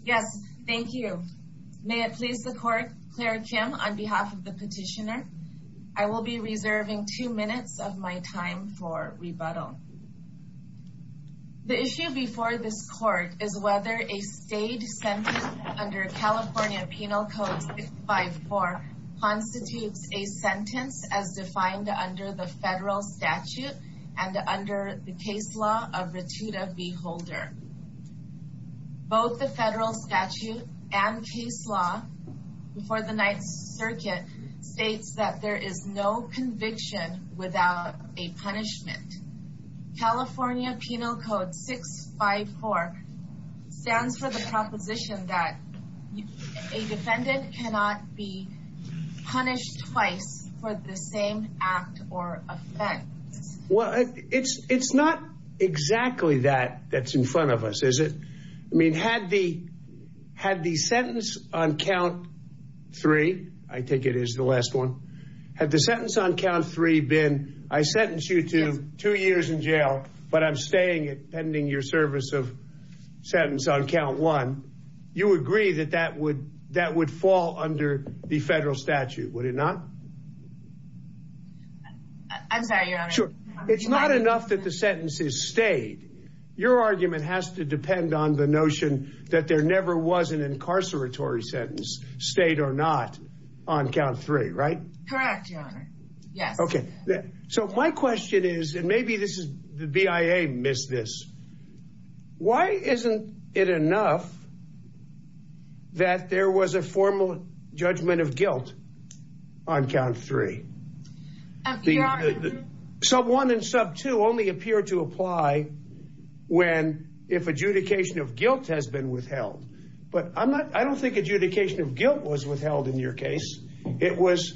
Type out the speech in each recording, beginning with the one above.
Yes, thank you. May it please the court, Claire Kim, on behalf of the petitioner, I will be reserving two minutes of my time for rebuttal. The issue before this court is whether a state sentence under California Penal Code 654 constitutes a sentence as defined under the federal statute and under the case law of Ratuda v. Holder. Both the federal statute and case law before the Ninth Circuit states that there is no conviction without a punishment. California Penal Code 654 stands for the proposition that a defendant cannot be punished twice for the same act or offense. Well, it's not exactly that that's in front of us, is it? I mean, had the sentence on count three, I think it is the last one. Had the sentence on count three been, I sentence you to two years in jail, but I'm staying at pending your service of sentence on count one. You agree that that would fall under the federal statute, would it not? I'm sorry. Sure. It's not enough that the sentence is stayed. Your argument has to depend on the notion that there never was an incarceratory sentence stayed or not on count three, right? Correct. Yes. Okay. So my question is, and maybe this is the BIA missed this. Why isn't it enough that there was a formal judgment of guilt on count three? So one and sub two only appear to apply when if adjudication of guilt has been withheld. But I'm not I don't think adjudication of guilt was withheld in your case. It was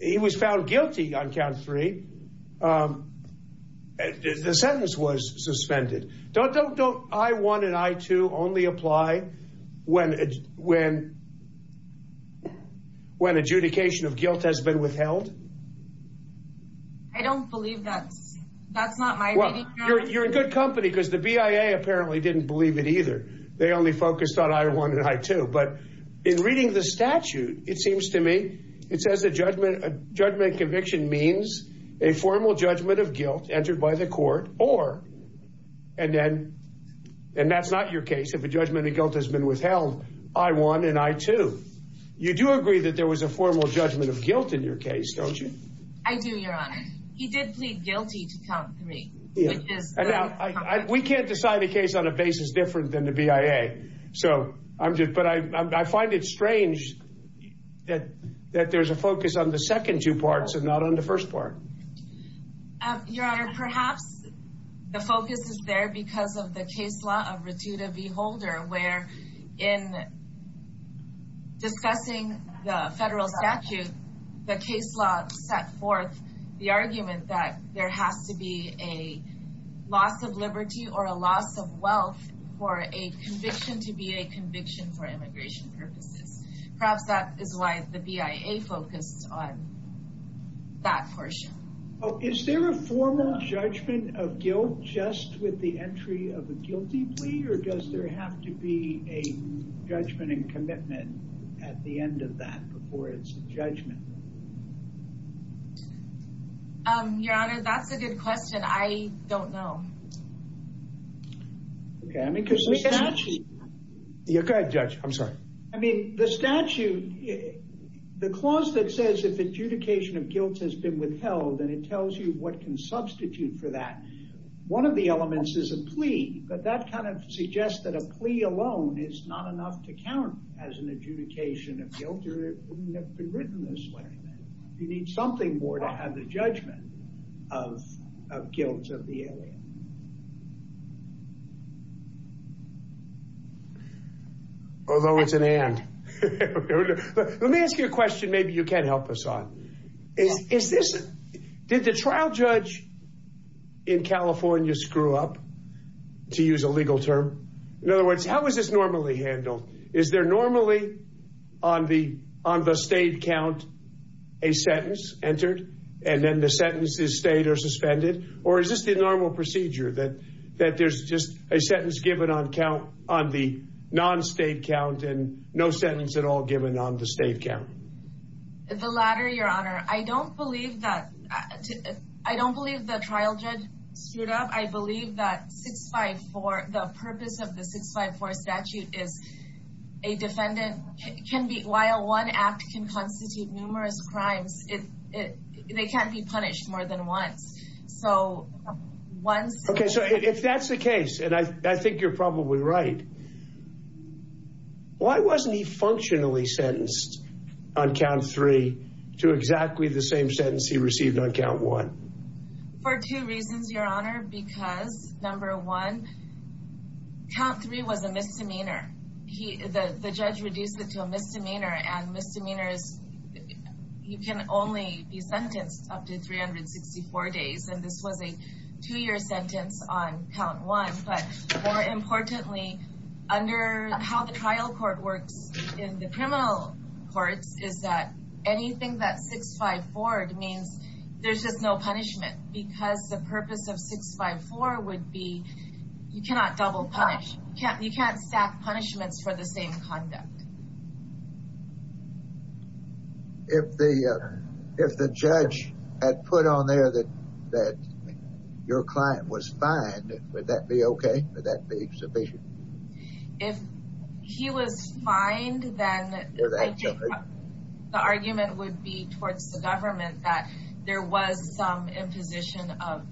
he was found guilty on count three. The sentence was suspended. Don't don't don't. I wanted I to only apply when when when adjudication of guilt has been withheld. I don't believe that's that's not my you're a good company because the BIA apparently didn't believe it either. They only focused on I wanted I too. But in reading the statute, it seems to me it says a judgment judgment conviction means a formal judgment of guilt. Judgment of guilt entered by the court or and then and that's not your case. If a judgment of guilt has been withheld, I won and I too. You do agree that there was a formal judgment of guilt in your case, don't you? I do, Your Honor. He did plead guilty to count three. We can't decide a case on a basis different than the BIA. So I'm just but I find it strange that that there's a focus on the second two parts and not on the first part. Your Honor, perhaps the focus is there because of the case law of Ratuta v. Holder, where in discussing the federal statute, the case law set forth the argument that there has to be a loss of liberty or a loss of wealth for a conviction to be a conviction for immigration purposes. Perhaps that is why the BIA focused on that portion. Oh, is there a formal judgment of guilt just with the entry of a guilty plea or does there have to be a judgment and commitment at the end of that before it's a judgment? Your Honor, that's a good question. I don't know. I mean, the statute, the clause that says if adjudication of guilt has been withheld and it tells you what can substitute for that, one of the elements is a plea. But that kind of suggests that a plea alone is not enough to count as an adjudication of guilt. It wouldn't have been written this way. You need something more to have the judgment of guilt of the alien. Although it's an and. Let me ask you a question. Maybe you can help us on this. Did the trial judge in California screw up, to use a legal term? In other words, how is this normally handled? Is there normally on the on the state count a sentence entered and then the sentences stayed or suspended? Or is this the normal procedure that that there's just a sentence given on count on the non-state count and no sentence at all given on the state count? The latter, Your Honor. I don't believe that. I don't believe the trial judge screwed up. I believe that 654, the purpose of the 654 statute is a defendant can be. While one act can constitute numerous crimes, it they can't be punished more than once. So once. OK, so if that's the case, and I think you're probably right. Why wasn't he functionally sentenced on count three to exactly the same sentence he received on count one for two reasons, Your Honor, because number one. Count three was a misdemeanor. The judge reduced it to a misdemeanor and misdemeanors. You can only be sentenced up to 364 days, and this was a two year sentence on count one. But more importantly, under how the trial court works in the criminal courts, is that anything that 654 means there's just no punishment because the purpose of 654 would be you cannot double punish. You can't stack punishments for the same conduct. If the if the judge had put on there that that your client was fined, would that be OK? Would that be sufficient? If he was fined, then the argument would be towards the government that there was some imposition of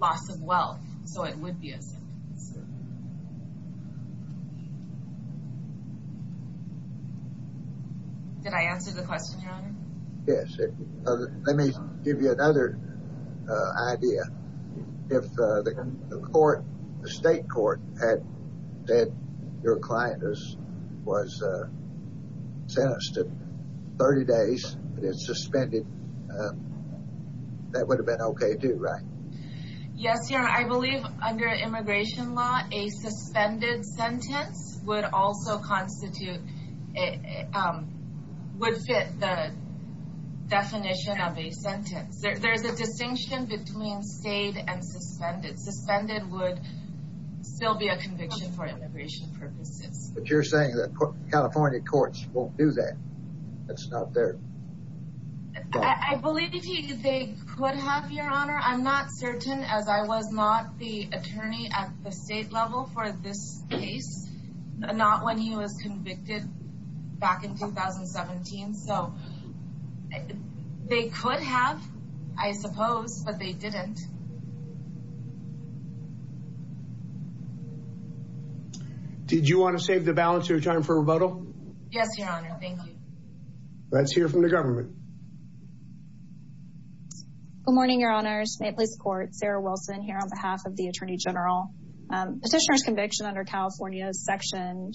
loss of wealth. So it would be a sentence. Did I answer the question, Your Honor? Yes. Let me give you another idea. If the court, the state court, had said your client was sentenced to 30 days, but it's suspended, that would have been OK, too, right? Yes, Your Honor. I believe under immigration law, a suspended sentence would also constitute, would fit the definition of a sentence. There's a distinction between state and suspended. Suspended would still be a conviction for immigration purposes. But you're saying that California courts won't do that. That's not there. I believe they could have, Your Honor. I'm not certain, as I was not the attorney at the state level for this case, not when he was convicted back in 2017. So they could have, I suppose, but they didn't. Did you want to save the balance of your time for rebuttal? Yes, Your Honor. Thank you. Let's hear from the government. Good morning, Your Honors. State Police Court. Sarah Wilson here on behalf of the Attorney General. Petitioner's conviction under California's Section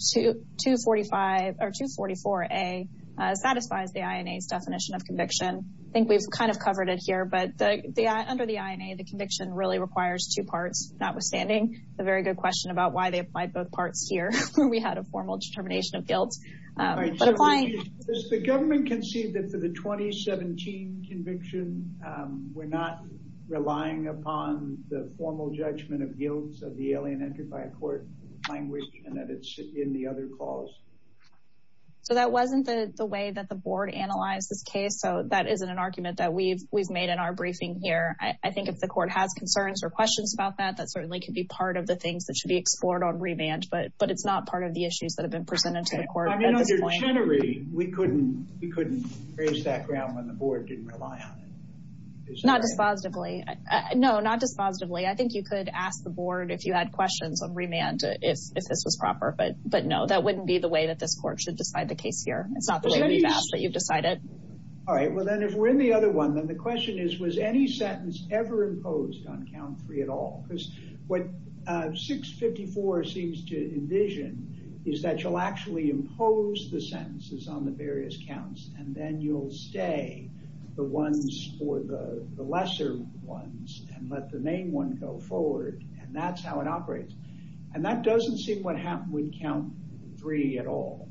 244A satisfies the INA's definition of conviction. I think we've kind of covered it here, but under the INA, the conviction really requires two parts, notwithstanding the very good question about why they applied both parts here where we had a formal determination of guilt. Does the government concede that for the 2017 conviction, we're not relying upon the formal judgment of guilt of the alien entered by a court language and that it's in the other clause? So that wasn't the way that the board analyzed this case, so that isn't an argument that we've made in our briefing here. I think if the court has concerns or questions about that, that certainly could be part of the things that should be explored on remand, but it's not part of the issues that have been presented to the court at this point. We couldn't raise that ground when the board didn't rely on it. Not dispositively. No, not dispositively. I think you could ask the board if you had questions on remand if this was proper, but no, that wouldn't be the way that this court should decide the case here. It's not the way we've asked, but you've decided. All right. Well, then if we're in the other one, then the question is, was any sentence ever imposed on count three at all? Because what 654 seems to envision is that you'll actually impose the sentences on the various counts, and then you'll stay the ones for the lesser ones and let the main one go forward. And that's how it operates. And that doesn't seem what happened with count three at all.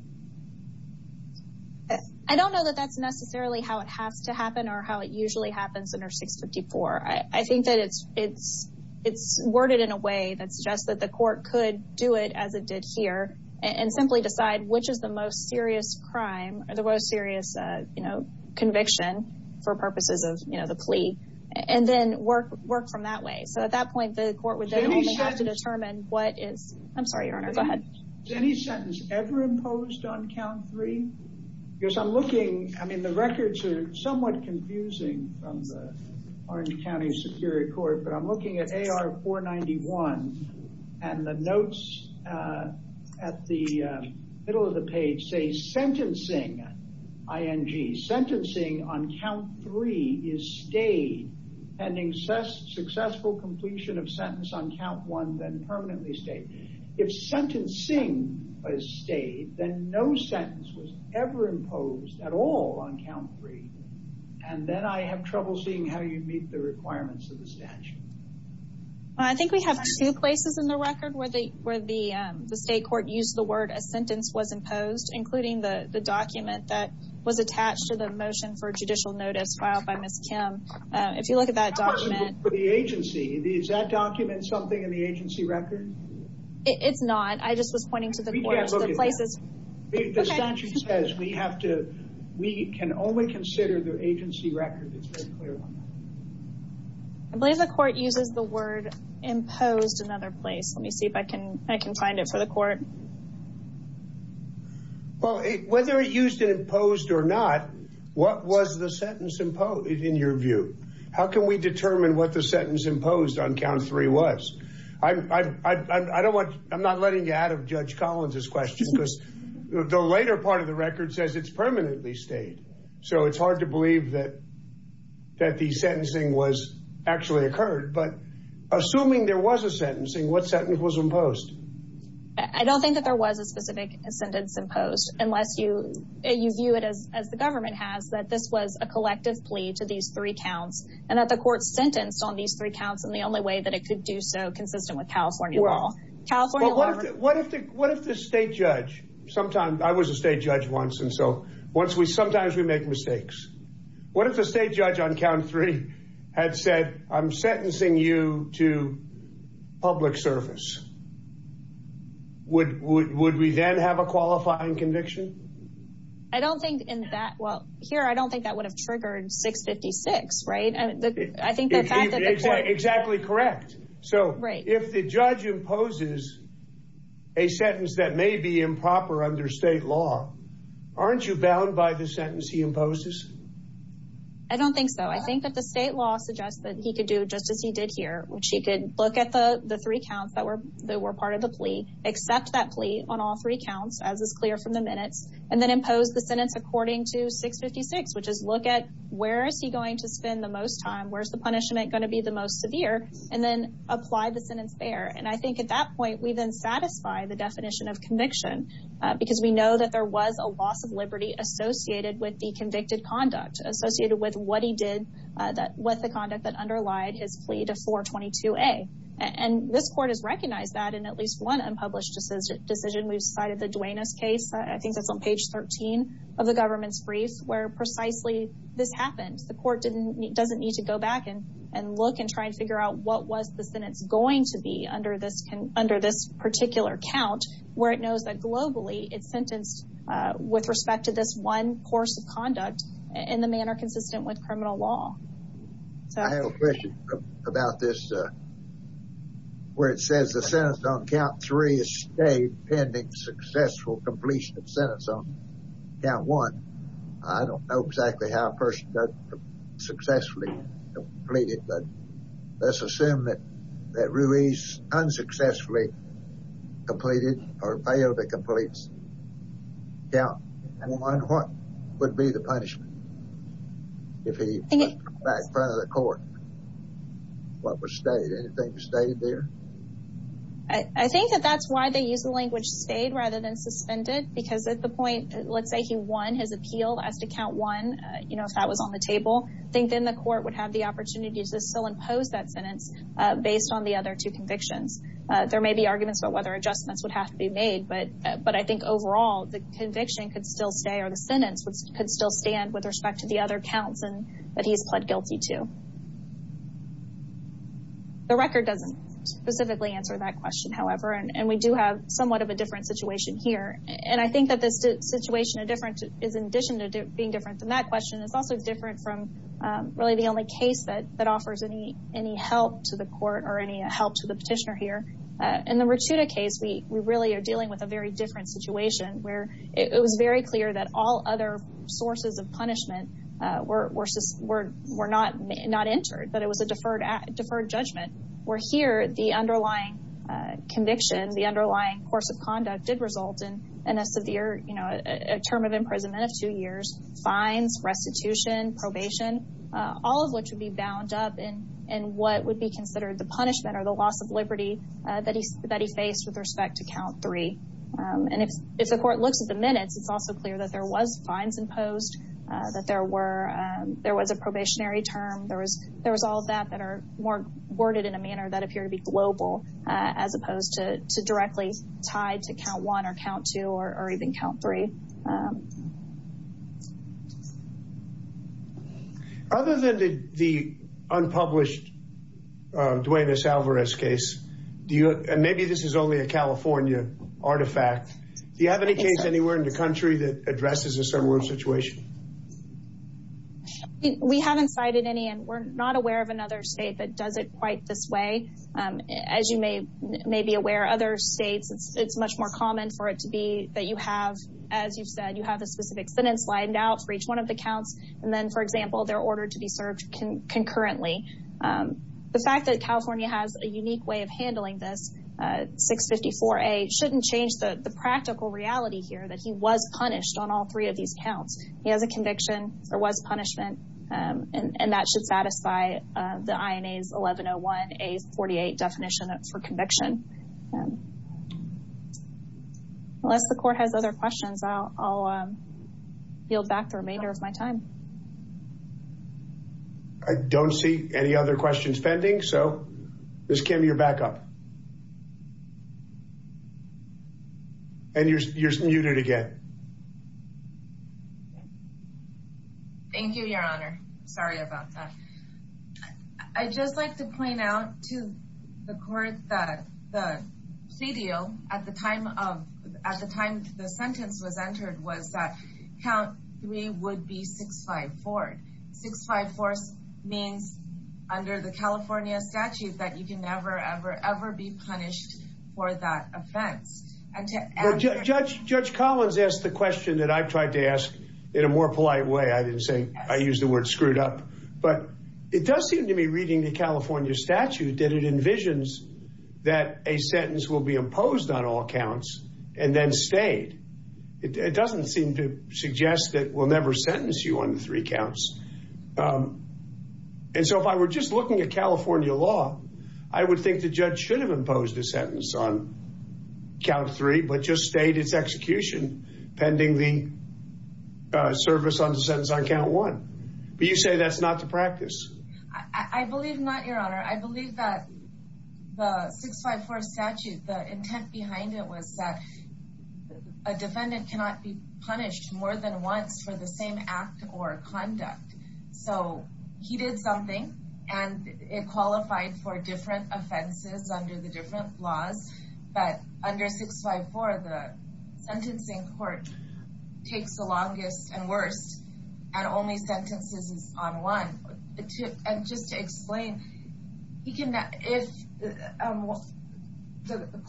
I don't know that that's necessarily how it has to happen or how it usually happens under 654. I think that it's worded in a way that suggests that the court could do it as it did here and simply decide which is the most serious crime or the most serious conviction for purposes of the plea and then work from that way. So at that point, the court would have to determine what is I'm sorry. Go ahead. Any sentence ever imposed on count three? Because I'm looking, I mean, the records are somewhat confusing from the Orange County Superior Court, but I'm looking at AR 491 and the notes at the middle of the page say sentencing. Sentencing, I-N-G. Sentencing on count three is stayed pending successful completion of sentence on count one, then permanently stayed. If sentencing is stayed, then no sentence was ever imposed at all on count three. And then I have trouble seeing how you'd meet the requirements of the statute. I think we have two places in the record where the state court used the word a sentence was imposed, including the document that was attached to the motion for judicial notice filed by Ms. Kim. If you look at that document. For the agency, is that document something in the agency record? It's not. I just was pointing to the court. We can't look at that. The statute says we can only consider the agency record. It's very clear on that. I believe the court uses the word imposed another place. Let me see if I can, I can find it for the court. Well, whether it used an imposed or not, what was the sentence imposed in your view? How can we determine what the sentence imposed on count three was? I don't want I'm not letting you out of Judge Collins's question because the later part of the record says it's permanently stayed. So it's hard to believe that. That the sentencing was actually occurred, but assuming there was a sentencing, what sentence was imposed? I don't think that there was a specific sentence imposed unless you view it as the government has, that this was a collective plea to these three counts and that the court sentenced on these three counts. And the only way that it could do so consistent with California law. What if the what if the state judge sometimes I was a state judge once. And so once we sometimes we make mistakes. What if the state judge on count three had said, I'm sentencing you to public service? Would would would we then have a qualifying conviction? I don't think in that. Well, here, I don't think that would have triggered 656. Right. I think that's exactly correct. So if the judge imposes a sentence that may be improper under state law, aren't you bound by the sentence he imposes? I don't think so. I think that the state law suggests that he could do just as he did here, which he could look at the three counts that were that were part of the plea, accept that plea on all three counts, as is clear from the minutes, and then impose the sentence according to 656, which is look at where is he going to spend the most time? Where's the punishment going to be the most severe? And then apply the sentence there. And I think at that point, we then satisfy the definition of conviction because we know that there was a loss of liberty associated with the convicted conduct associated with what he did. That was the conduct that underlied his plea to 422-A. And this court has recognized that in at least one unpublished decision. We've cited the Duenas case. I think that's on page 13 of the government's brief where precisely this happens. The court didn't doesn't need to go back in and look and try and figure out what was the sentence going to be under this under this particular count, where it knows that globally it's sentenced with respect to this one course of conduct in the manner consistent with criminal law. I have a question about this, where it says the sentence on count three is stayed pending successful completion of sentence on count one. I don't know exactly how a person does successfully complete it, but let's assume that Ruiz unsuccessfully completed or failed to complete count one. What would be the punishment if he went back in front of the court? What was stayed? Anything stayed there? I think that that's why they use the language stayed rather than suspended, because at the point, let's say he won his appeal as to count one, you know, if that was on the table, I think then the court would have the opportunity to still impose that sentence based on the other two convictions. There may be arguments about whether adjustments would have to be made, but I think overall the conviction could still stay or the sentence could still stand with respect to the other counts that he's pled guilty to. The record doesn't specifically answer that question, however, and we do have somewhat of a different situation here. And I think that this situation is in addition to being different than that question, it's also different from really the only case that offers any help to the court or any help to the petitioner here. In the Richuda case, we really are dealing with a very different situation where it was very clear that all other sources of punishment were not entered, but it was a deferred judgment, where here the underlying conviction, the underlying course of conduct did result in a severe, you know, a term of imprisonment of two years, fines, restitution, probation, all of which would be bound up in what would be considered the punishment or the loss of liberty that he faced with respect to count three. And if the court looks at the minutes, it's also clear that there was fines imposed, that there was a probationary term. There was all of that that are more worded in a manner that appear to be global as opposed to directly tied to count one or count two or even count three. Other than the unpublished Duane S. Alvarez case, and maybe this is only a California artifact, do you have any case anywhere in the country that addresses a similar situation? We haven't cited any, and we're not aware of another state that does it quite this way. As you may be aware, other states, it's much more common for it to be that you have, as you've said, you have a specific sentence lined out for each one of the counts, and then, for example, they're ordered to be served concurrently. The fact that California has a unique way of handling this, 654A, shouldn't change the practical reality here, that he was punished on all three of these counts. He has a conviction, there was punishment, and that should satisfy the INA's 1101A48 definition for conviction. Unless the court has other questions, I'll yield back the remainder of my time. I don't see any other questions pending, so Ms. Kim, you're back up. And you're muted again. Thank you, your honor. Sorry about that. I'd just like to point out to the court that the pledio, at the time the sentence was entered, was that count three would be 654. 654 means, under the California statute, that you can never, ever, ever be punished for that offense. Judge Collins asked the question that I tried to ask in a more polite way. I didn't say, I used the word screwed up, but it does seem to me, reading the California statute, that it envisions that a sentence will be imposed on all counts and then stayed. It doesn't seem to suggest that we'll never sentence you on three counts. And so if I were just looking at California law, I would think the judge should have imposed a sentence on count three, but just stayed its execution pending the service on the sentence on count one. But you say that's not the practice. I believe not, your honor. I believe that the 654 statute, the intent behind it was that a defendant cannot be punished more than once for the same act or conduct. So he did something, and it qualified for different offenses under the different laws. But under 654, the sentencing court takes the longest and worst, and only sentences on one. And just to explain, the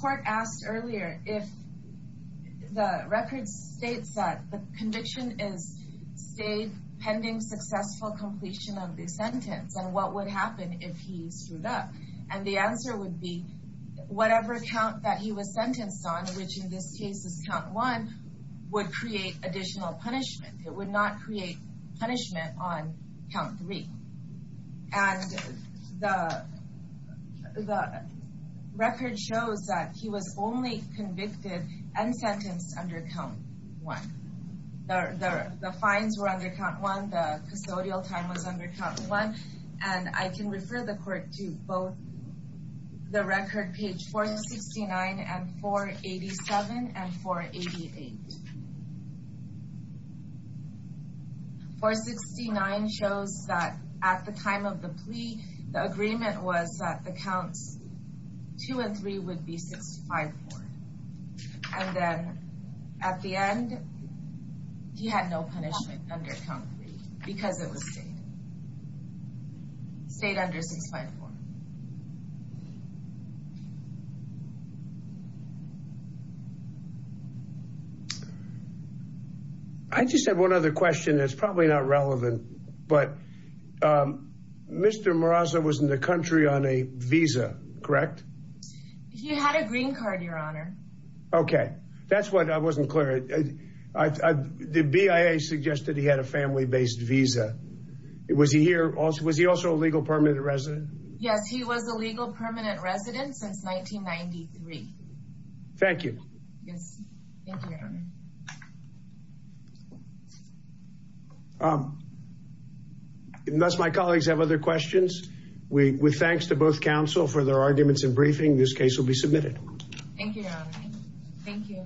court asked earlier if the record states that the conviction is stayed pending successful completion of the sentence. And what would happen if he screwed up? And the answer would be whatever count that he was sentenced on, which in this case is count one, would create additional punishment. It would not create punishment on count three. And the record shows that he was only convicted and sentenced under count one. The fines were under count one. The custodial time was under count one. And I can refer the court to both the record page 469 and 487 and 488. 469 shows that at the time of the plea, the agreement was that the counts two and three would be 654. And then at the end, he had no punishment under count three because it was stayed. Stayed under 654. I just have one other question that's probably not relevant, but Mr. Moraza was in the country on a visa, correct? He had a green card, your honor. Okay, that's what I wasn't clear. The BIA suggested he had a family based visa. Was he also a legal permanent resident? Yes, he was a legal permanent resident since 1993. Thank you. Yes, thank you, your honor. Unless my colleagues have other questions, with thanks to both counsel for their arguments and briefing, this case will be submitted. Thank you, your honor. Thank you.